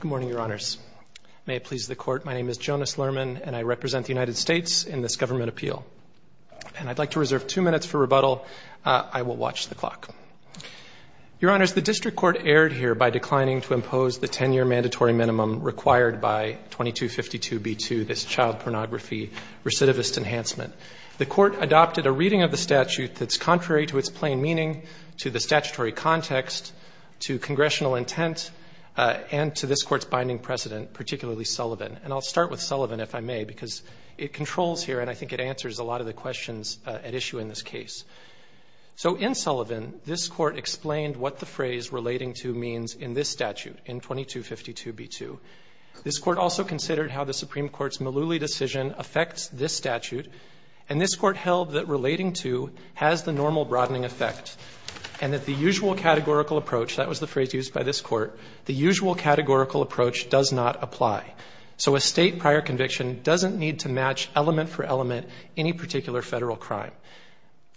Good morning, Your Honors. May it please the Court, my name is Jonas Lerman and I represent the United States in this government appeal. And I'd like to reserve two minutes for rebuttal. I will watch the clock. Your Honors, the District Court erred here by declining to impose the 10-year mandatory minimum required by 2252b2, this child pornography recidivist enhancement. The Court adopted a reading of the statute that's contrary to its plain meaning, to the statutory context, to congressional intent, and to this Court's binding precedent, particularly Sullivan. And I'll start with Sullivan, if I may, because it controls here and I think it answers a lot of the questions at issue in this case. So in Sullivan, this Court explained what the phrase relating to means in this statute, in 2252b2. This Court also considered how the Supreme Court's Malooly decision affects this statute. And this Court held that relating to has the normal broadening effect and that the usual categorical approach, that was the phrase used by this Court, the usual categorical approach does not apply. So a State prior conviction doesn't need to match element for element any particular Federal crime.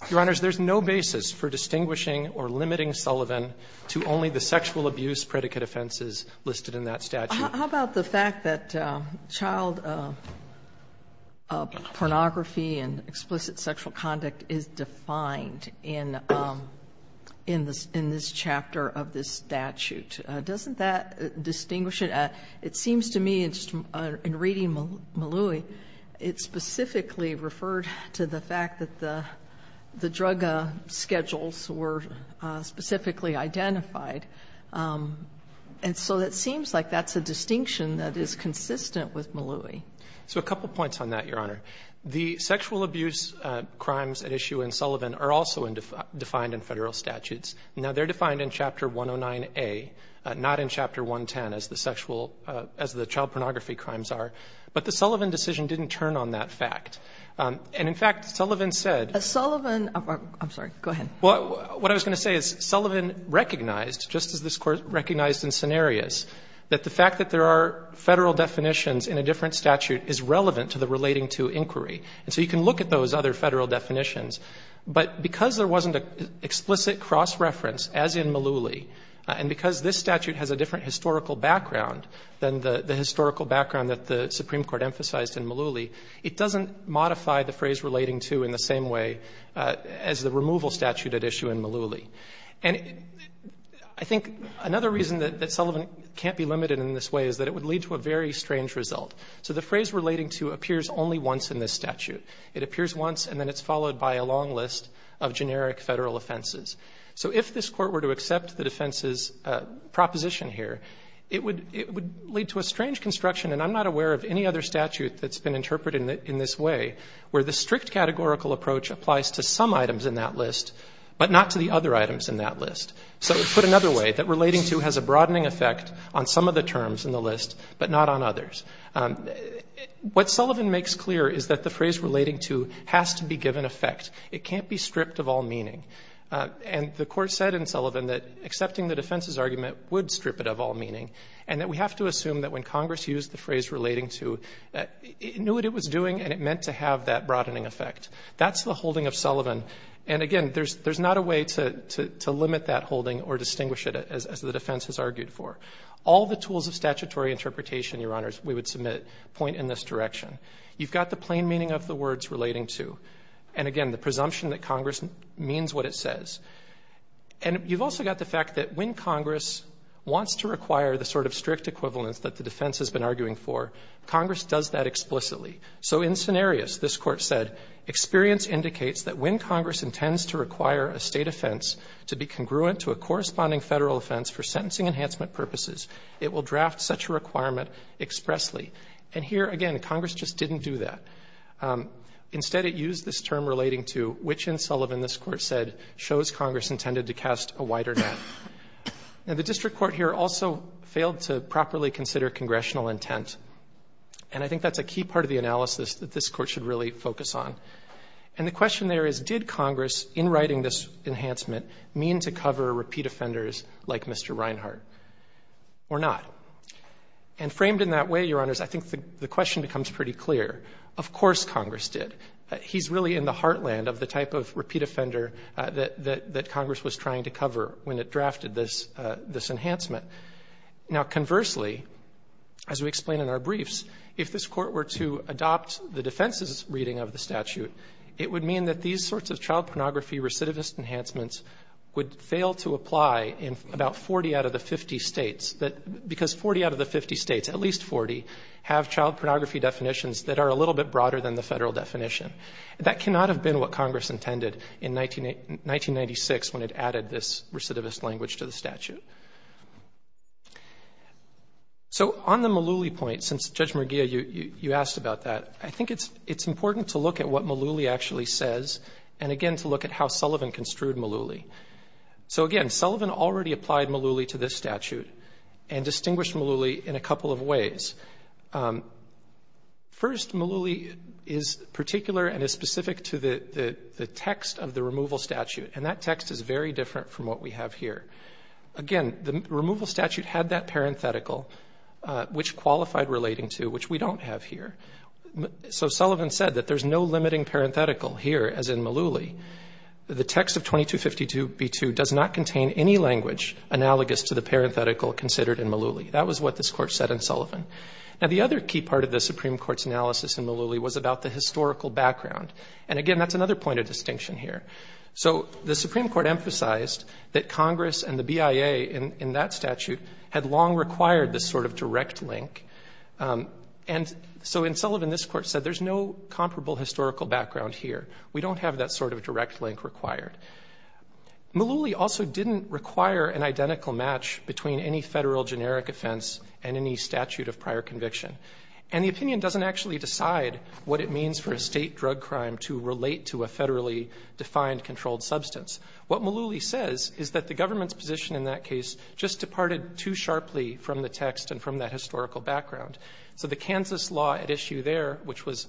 Your Honors, there's no basis for distinguishing or limiting Sullivan to only the sexual How about the fact that child pornography and explicit sexual conduct is defined in this chapter of this statute? Doesn't that distinguish it? It seems to me in reading Malooly, it specifically referred to the fact that the drug schedules were specifically identified. And so it seems like that's a distinction that is consistent with Malooly. So a couple points on that, Your Honor. The sexual abuse crimes at issue in Sullivan are also defined in Federal statutes. Now, they're defined in Chapter 109a, not in Chapter 110, as the sexual as the child pornography crimes are. But the Sullivan decision didn't turn on that fact. And, in fact, Sullivan said I'm sorry, go ahead. What I was going to say is Sullivan recognized, just as this Court recognized in Cenarius, that the fact that there are Federal definitions in a different statute is relevant to the relating to inquiry. And so you can look at those other Federal definitions. But because there wasn't an explicit cross-reference, as in Malooly, and because this statute has a different historical background than the historical background that the Supreme Court emphasized in Malooly, it doesn't modify the phrase relating to in the same way as the removal statute at issue in Malooly. And I think another reason that Sullivan can't be limited in this way is that it would lead to a very strange result. So the phrase relating to appears only once in this statute. It appears once, and then it's followed by a long list of generic Federal offenses. So if this Court were to accept the defense's proposition here, it would lead to a strange construction, and I'm not aware of any other statute that's been given that this categorical approach applies to some items in that list, but not to the other items in that list. So put another way, that relating to has a broadening effect on some of the terms in the list, but not on others. What Sullivan makes clear is that the phrase relating to has to be given effect. It can't be stripped of all meaning. And the Court said in Sullivan that accepting the defense's argument would strip it of all meaning and that we have to assume that when Congress used the phrase relating to, it knew what it was doing and it meant to have that broadening effect. That's the holding of Sullivan. And, again, there's not a way to limit that holding or distinguish it, as the defense has argued for. All the tools of statutory interpretation, Your Honors, we would submit point in this direction. You've got the plain meaning of the words relating to. And, again, the presumption that Congress means what it says. And you've also got the fact that when Congress wants to require the sort of strict equivalence that the defense has been arguing for, Congress does that explicitly. So in Cenarius, this Court said, experience indicates that when Congress intends to require a State offense to be congruent to a corresponding Federal offense for sentencing enhancement purposes, it will draft such a requirement expressly. And here, again, Congress just didn't do that. Instead, it used this term relating to, which in Sullivan this Court said shows Congress intended to cast a wider net. Now, the district court here also failed to properly consider congressional intent. And I think that's a key part of the analysis that this Court should really focus on. And the question there is, did Congress, in writing this enhancement, mean to cover repeat offenders like Mr. Reinhart or not? And framed in that way, Your Honors, I think the question becomes pretty clear. Of course Congress did. He's really in the heartland of the type of repeat offender that Congress was trying to cover when it drafted this enhancement. Now, conversely, as we explain in our briefs, if this Court were to adopt the defense's reading of the statute, it would mean that these sorts of child pornography recidivist enhancements would fail to apply in about 40 out of the 50 States. Because 40 out of the 50 States, at least 40, have child pornography definitions that are a little bit broader than the Federal definition. That cannot have been what Congress intended in 1996 when it added this recidivist language to the statute. So on the Mullooly point, since, Judge Murgia, you asked about that, I think it's important to look at what Mullooly actually says and, again, to look at how Sullivan construed Mullooly. So, again, Sullivan already applied Mullooly to this statute and distinguished Mullooly in a couple of ways. First, Mullooly is particular and is specific to the text of the removal statute, and that text is very different from what we have here. Again, the removal statute had that parenthetical, which qualified relating to, which we don't have here. So Sullivan said that there's no limiting parenthetical here, as in Mullooly. The text of 2252b2 does not contain any language analogous to the parenthetical considered in Mullooly. That was what this Court said in Sullivan. Now, the other key part of the Supreme Court's analysis in Mullooly was about the historical background. And, again, that's another point of distinction here. So the Supreme Court emphasized that Congress and the BIA in that statute had long required this sort of direct link. And so in Sullivan, this Court said there's no comparable historical background here. We don't have that sort of direct link required. Mullooly also didn't require an identical match between any Federal generic offense and any statute of prior conviction. And the opinion doesn't actually decide what it means for a State drug crime to relate to a Federally defined controlled substance. What Mullooly says is that the government's position in that case just departed too sharply from the text and from that historical background. So the Kansas law at issue there, which was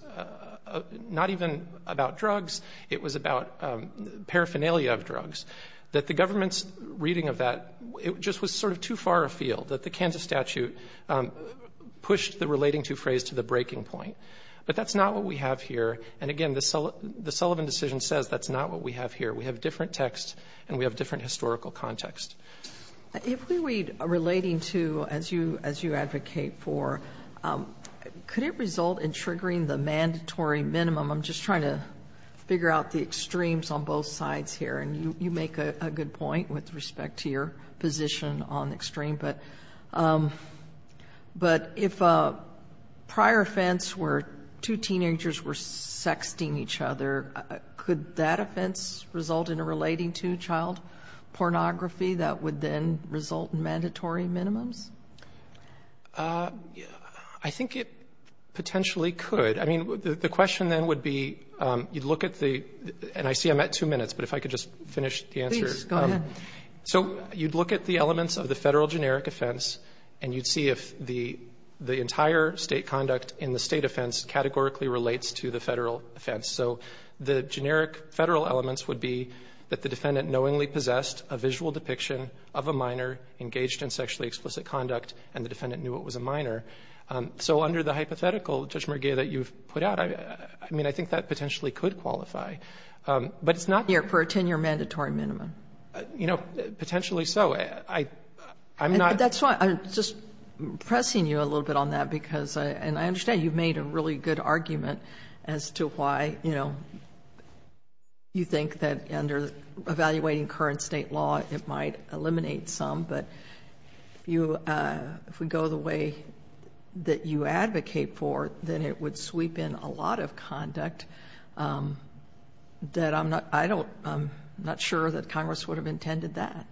not even about drugs, it was about paraphernalia of drugs, that the government's reading of that, it just was sort of too far afield, that the Kansas statute pushed the relating-to phrase to the breaking point. But that's not what we have here. And, again, the Sullivan decision says that's not what we have here. We have different text and we have different historical context. Sotomayor, if we read a relating-to as you advocate for, could it result in triggering the mandatory minimum? I'm just trying to figure out the extremes on both sides here. And you make a good point with respect to your position on extreme. But if a prior offense were two teenagers were sexting each other, could that offense result in a relating-to child pornography that would then result in mandatory minimums? I think it potentially could. I mean, the question then would be, you'd look at the — and I see I'm at two minutes, but if I could just finish the answer. Please, go ahead. So you'd look at the elements of the Federal generic offense, and you'd see if the entire State conduct in the State offense categorically relates to the Federal elements would be that the defendant knowingly possessed a visual depiction of a minor engaged in sexually explicit conduct, and the defendant knew it was a minor. So under the hypothetical, Judge Merguez, that you've put out, I mean, I think that potentially could qualify. But it's not the case. For a 10-year mandatory minimum. You know, potentially so. I'm not — That's why I'm just pressing you a little bit on that, because — and I understand why you've made a really good argument as to why, you know, you think that under evaluating current State law, it might eliminate some. But if you — if we go the way that you advocate for, then it would sweep in a lot of conduct that I'm not — I don't — I'm not sure that Congress would have intended that.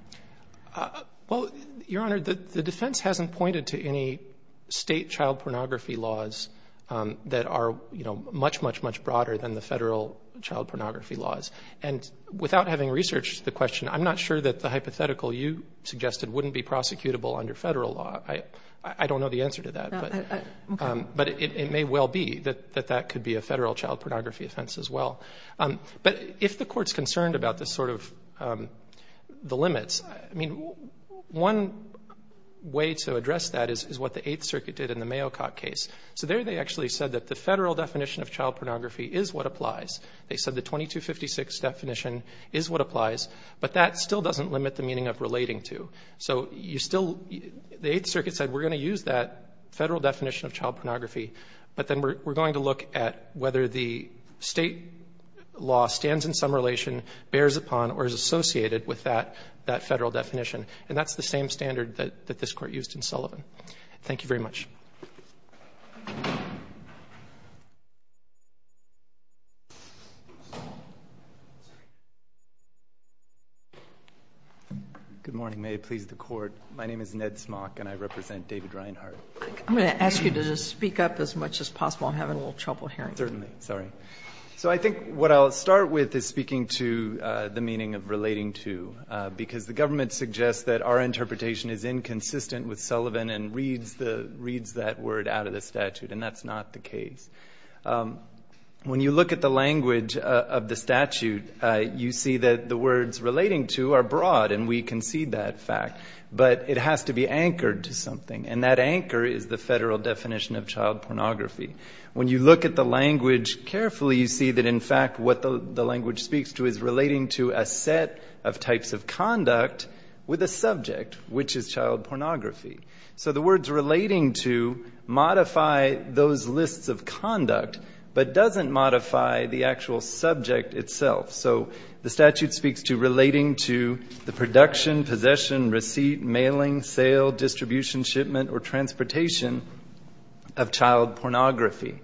Well, Your Honor, the defense hasn't pointed to any State child pornography laws that are, you know, much, much, much broader than the Federal child pornography laws. And without having researched the question, I'm not sure that the hypothetical you suggested wouldn't be prosecutable under Federal law. I don't know the answer to that. Okay. But it may well be that that could be a Federal child pornography offense as well. But if the Court's concerned about this sort of — the limits, I mean, one way to address that is what the Eighth Circuit did in the Mayock case. So there they actually said that the Federal definition of child pornography is what applies. They said the 2256 definition is what applies. But that still doesn't limit the meaning of relating to. So you still — the Eighth Circuit said we're going to use that Federal definition of child pornography, but then we're going to look at whether the State law stands in some relation, bears upon, or is associated with that — that Federal definition. And that's the same standard that this Court used in Sullivan. Thank you very much. Good morning. May it please the Court. My name is Ned Smock, and I represent David Reinhardt. I'm going to ask you to just speak up as much as possible. I'm having a little trouble hearing you. Certainly. Sorry. So I think what I'll start with is speaking to the meaning of relating to, because the government suggests that our interpretation is inconsistent with Sullivan and reads the — reads that word out of the statute, and that's not the case. When you look at the language of the statute, you see that the words relating to are broad, and we concede that fact. But it has to be anchored to something. And that anchor is the Federal definition of child pornography. When you look at the language carefully, you see that, in fact, what the language speaks to is relating to a set of types of conduct with a subject, which is child pornography. So the words relating to modify those lists of conduct, but doesn't modify the actual subject itself. So the statute speaks to relating to the production, possession, receipt, mailing, sale, distribution, shipment, or transportation of child pornography.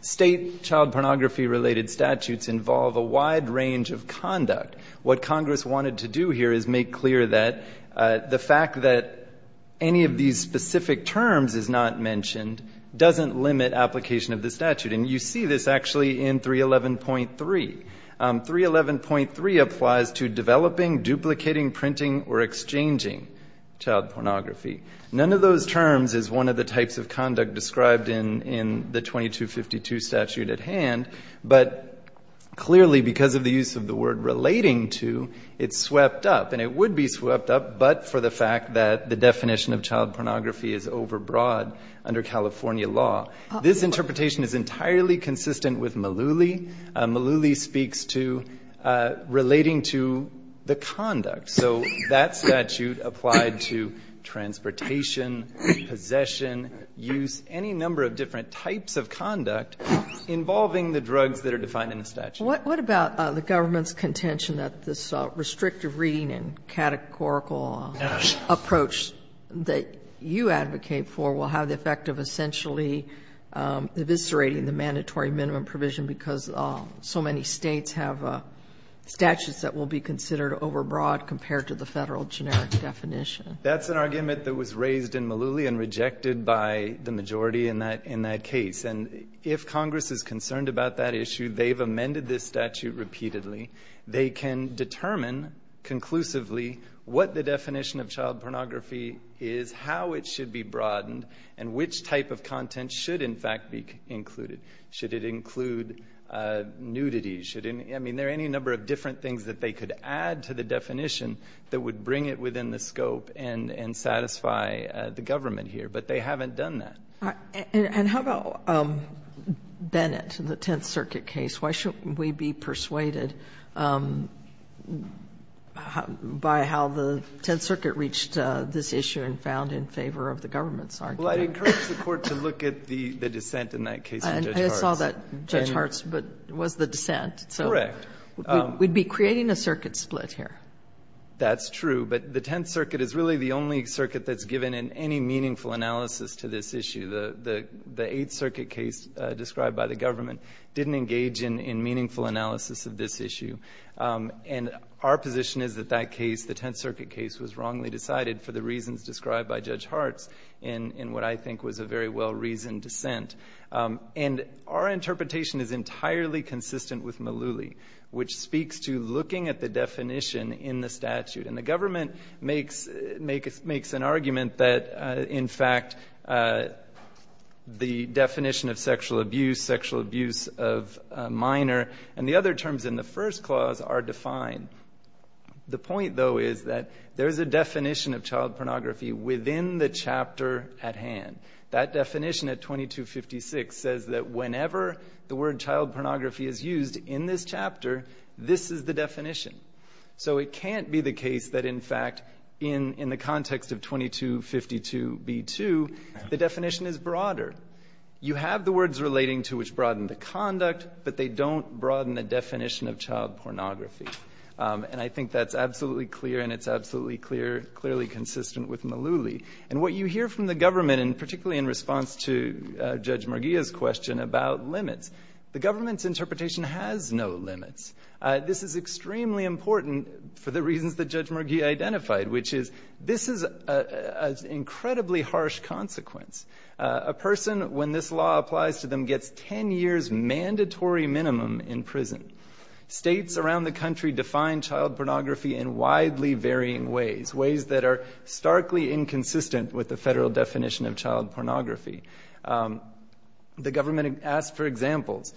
State child pornography-related statutes involve a wide range of conduct. What Congress wanted to do here is make clear that the fact that any of these specific terms is not mentioned doesn't limit application of the statute. And you see this, actually, in 311.3. 311.3 applies to developing, duplicating, printing, or exchanging child pornography. None of those terms is one of the types of conduct described in the 2252 statute at hand. But clearly, because of the use of the word relating to, it's swept up. And it would be swept up, but for the fact that the definition of child pornography is overbroad under California law. This interpretation is entirely consistent with Mullooly. Mullooly speaks to relating to the conduct. So that statute applied to transportation, possession, use, any number of different types of conduct involving the drugs that are defined in the statute. What about the government's contention that this restrictive reading and categorical approach that you advocate for will have the effect of essentially eviscerating the mandatory minimum provision because so many states have statutes that will be considered overbroad compared to the Federal generic definition? That's an argument that was raised in Mullooly and rejected by the majority in that case. And if Congress is concerned about that issue, they've amended this statute repeatedly. They can determine conclusively what the definition of child pornography is, how it should be broadened, and which type of content should, in fact, be included. Should it include nudity? I mean, there are any number of different things that they could add to the definition that would bring it within the scope and satisfy the government here. But they haven't done that. And how about Bennett, the Tenth Circuit case? Why should we be persuaded by how the Tenth Circuit reached this issue and found in favor of the government's argument? Well, I'd encourage the Court to look at the dissent in that case of Judge Hartz. I saw that, Judge Hartz, but it was the dissent. Correct. So we'd be creating a circuit split here. That's true. But the Tenth Circuit is really the only circuit that's given any meaningful analysis to this issue. The Eighth Circuit case described by the government didn't engage in meaningful analysis of this issue. And our position is that that case, the Tenth Circuit case, was wrongly decided for the reasons described by Judge Hartz in what I think was a very well-reasoned dissent. And our interpretation is entirely consistent with Malooly, which speaks to looking at the definition in the statute. And the government makes an argument that, in fact, the definition of sexual abuse, sexual abuse of a minor, and the other terms in the first clause are defined. The point, though, is that there's a definition of child pornography within the chapter at hand. That definition at 2256 says that whenever the word child pornography is used in this chapter, this is the definition. So it can't be the case that, in fact, in the context of 2252b2, the definition is broader. You have the words relating to which broaden the conduct, but they don't broaden the definition of child pornography. And I think that's absolutely clear, and it's absolutely clear, clearly consistent with Malooly. And what you hear from the government, and particularly in response to Judge Murguia's question about limits, the government's interpretation has no limits. This is extremely important for the reasons that Judge Murguia identified, which is this is an incredibly harsh consequence. A person, when this law applies to them, gets ten years' mandatory minimum in prison. States around the country define child pornography in widely varying ways, ways that are starkly inconsistent with the federal definition of child pornography. The government asks for examples.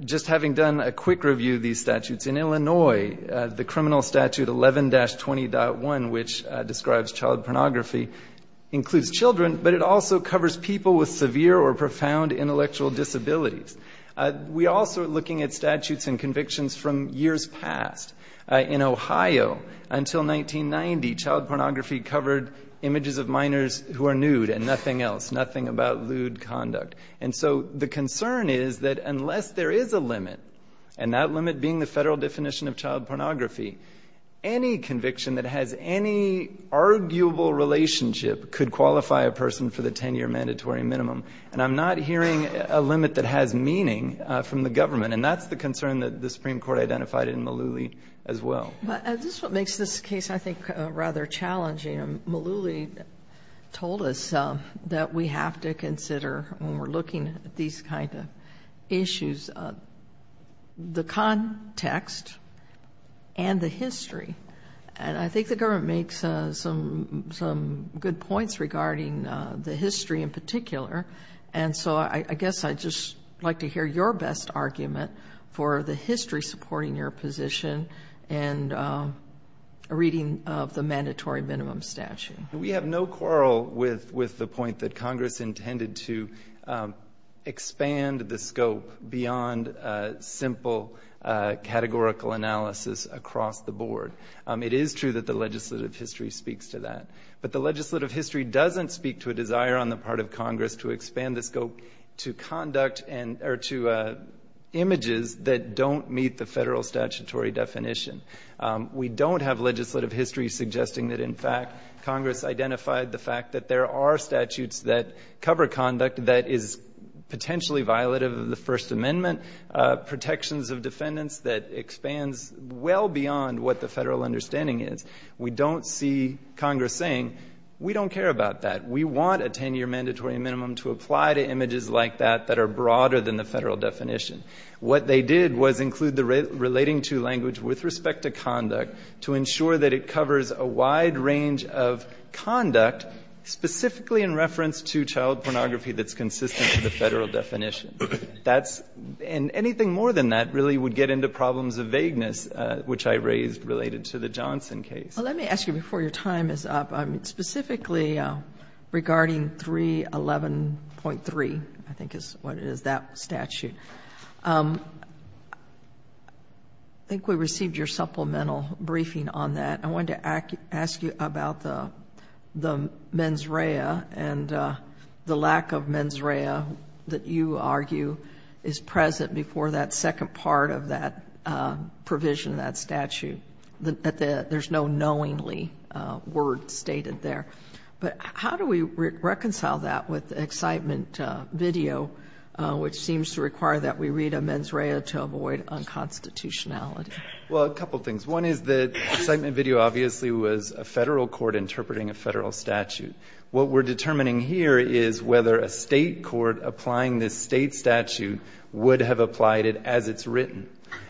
Just having done a quick review of these statutes, in Illinois, the criminal statute 11-20.1, which describes child pornography, includes children, but it also covers people with severe or profound intellectual disabilities. We also are looking at statutes and convictions from years past. In Ohio, until 1990, child pornography covered images of minors who are nude and nothing else, nothing about lewd conduct. And so the concern is that unless there is a limit, and that limit being the federal definition of child pornography, any conviction that has any arguable relationship could qualify a person for the ten-year mandatory minimum. And I'm not hearing a limit that has meaning from the government. And that's the concern that the Supreme Court identified in Malooly as well. This is what makes this case, I think, rather challenging. Malooly told us that we have to consider, when we're looking at these kind of issues, the context and the history. And I think the government makes some good points regarding the history in particular. And so I guess I'd just like to hear your best argument for the history supporting your position and a reading of the mandatory minimum statute. We have no quarrel with the point that Congress intended to expand the scope beyond simple categorical analysis across the board. It is true that the legislative history speaks to that. But the legislative history doesn't speak to a desire on the part of Congress to expand the scope to conduct and or to images that don't meet the Federal statutory definition. We don't have legislative history suggesting that, in fact, Congress identified the fact that there are statutes that cover conduct that is potentially violative of the First Amendment protections of defendants that expands well beyond what the Federal understanding is. We don't see Congress saying, we don't care about that. We want a 10-year mandatory minimum to apply to images like that that are broader than the Federal definition. What they did was include the relating to language with respect to conduct to ensure that it covers a wide range of conduct specifically in reference to child pornography that's consistent with the Federal definition. That's and anything more than that really would get into problems of vagueness, which I raised related to the Johnson case. Let me ask you before your time is up, specifically regarding 311.3, I think is what is that statute. I think we received your supplemental briefing on that. I wanted to ask you about the mens rea and the lack of mens rea that you argue is present before that second part of that provision, that statute. There's no knowingly word stated there. But how do we reconcile that with excitement video, which seems to require that we read a mens rea to avoid unconstitutionality? Well, a couple of things. One is that excitement video obviously was a Federal court interpreting a Federal statute. What we're determining here is whether a State court applying this State statute would have applied it as it's written.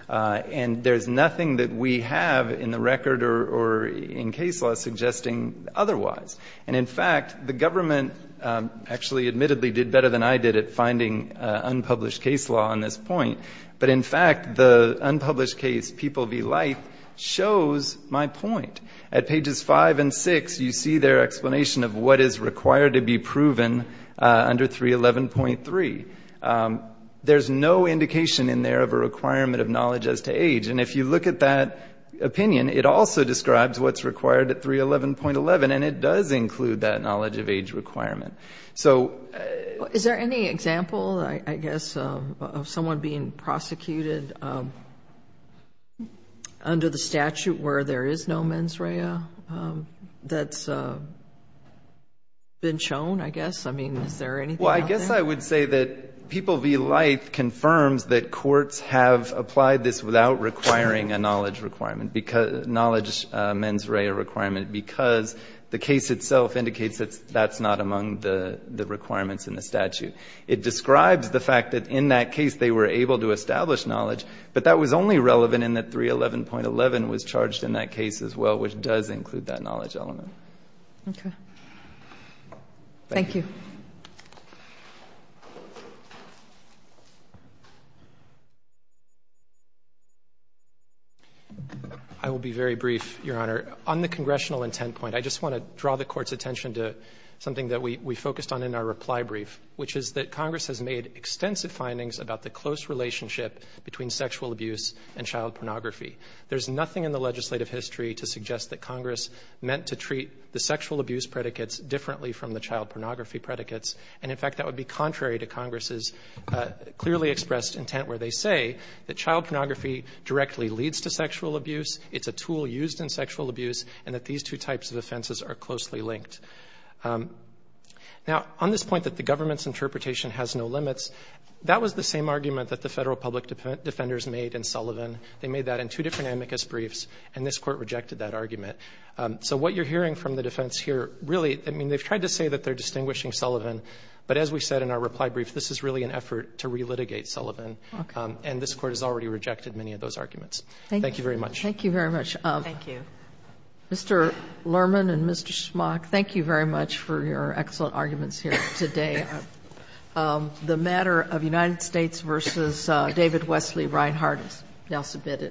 And there's nothing that we have in the record or in case law suggesting otherwise. And in fact, the government actually admittedly did better than I did at finding unpublished case law on this point. But in fact, the unpublished case, People v. Lyfe, shows my point. At pages 5 and 6, you see their explanation of what is required to be proven under 311.3. There's no indication in there of a requirement of knowledge as to age. And if you look at that opinion, it also describes what's required at 311.11, and it does include that knowledge of age requirement. So ---- Is there any example, I guess, of someone being prosecuted under the statute where there is no mens rea that's been shown, I guess? I mean, is there anything out there? I guess I would say that People v. Lyfe confirms that courts have applied this without requiring a knowledge requirement, knowledge mens rea requirement, because the case itself indicates that that's not among the requirements in the statute. It describes the fact that in that case they were able to establish knowledge, but that was only relevant in that 311.11 was charged in that case as well, which does include that knowledge element. Okay. Thank you. I will be very brief, Your Honor. On the congressional intent point, I just want to draw the Court's attention to something that we focused on in our reply brief, which is that Congress has made extensive findings about the close relationship between sexual abuse and child pornography. There's nothing in the legislative history to suggest that Congress meant to treat the sexual abuse predicates differently from the child pornography predicates. And, in fact, that would be contrary to Congress's clearly expressed intent where they say that child pornography directly leads to sexual abuse, it's a tool used in sexual abuse, and that these two types of offenses are closely linked. Now, on this point that the government's interpretation has no limits, that was the same argument that the Federal public defenders made in Sullivan. They made that in two different amicus briefs, and this Court rejected that argument. So what you're hearing from the defense here, really, I mean, they've tried to say that they're distinguishing Sullivan, but as we said in our reply brief, this is really an effort to relitigate Sullivan. Okay. And this Court has already rejected many of those arguments. Thank you very much. Thank you very much. Thank you. Mr. Lerman and Mr. Schmock, thank you very much for your excellent arguments here today. The matter of United States v. David Wesley Reinhart is now submitted.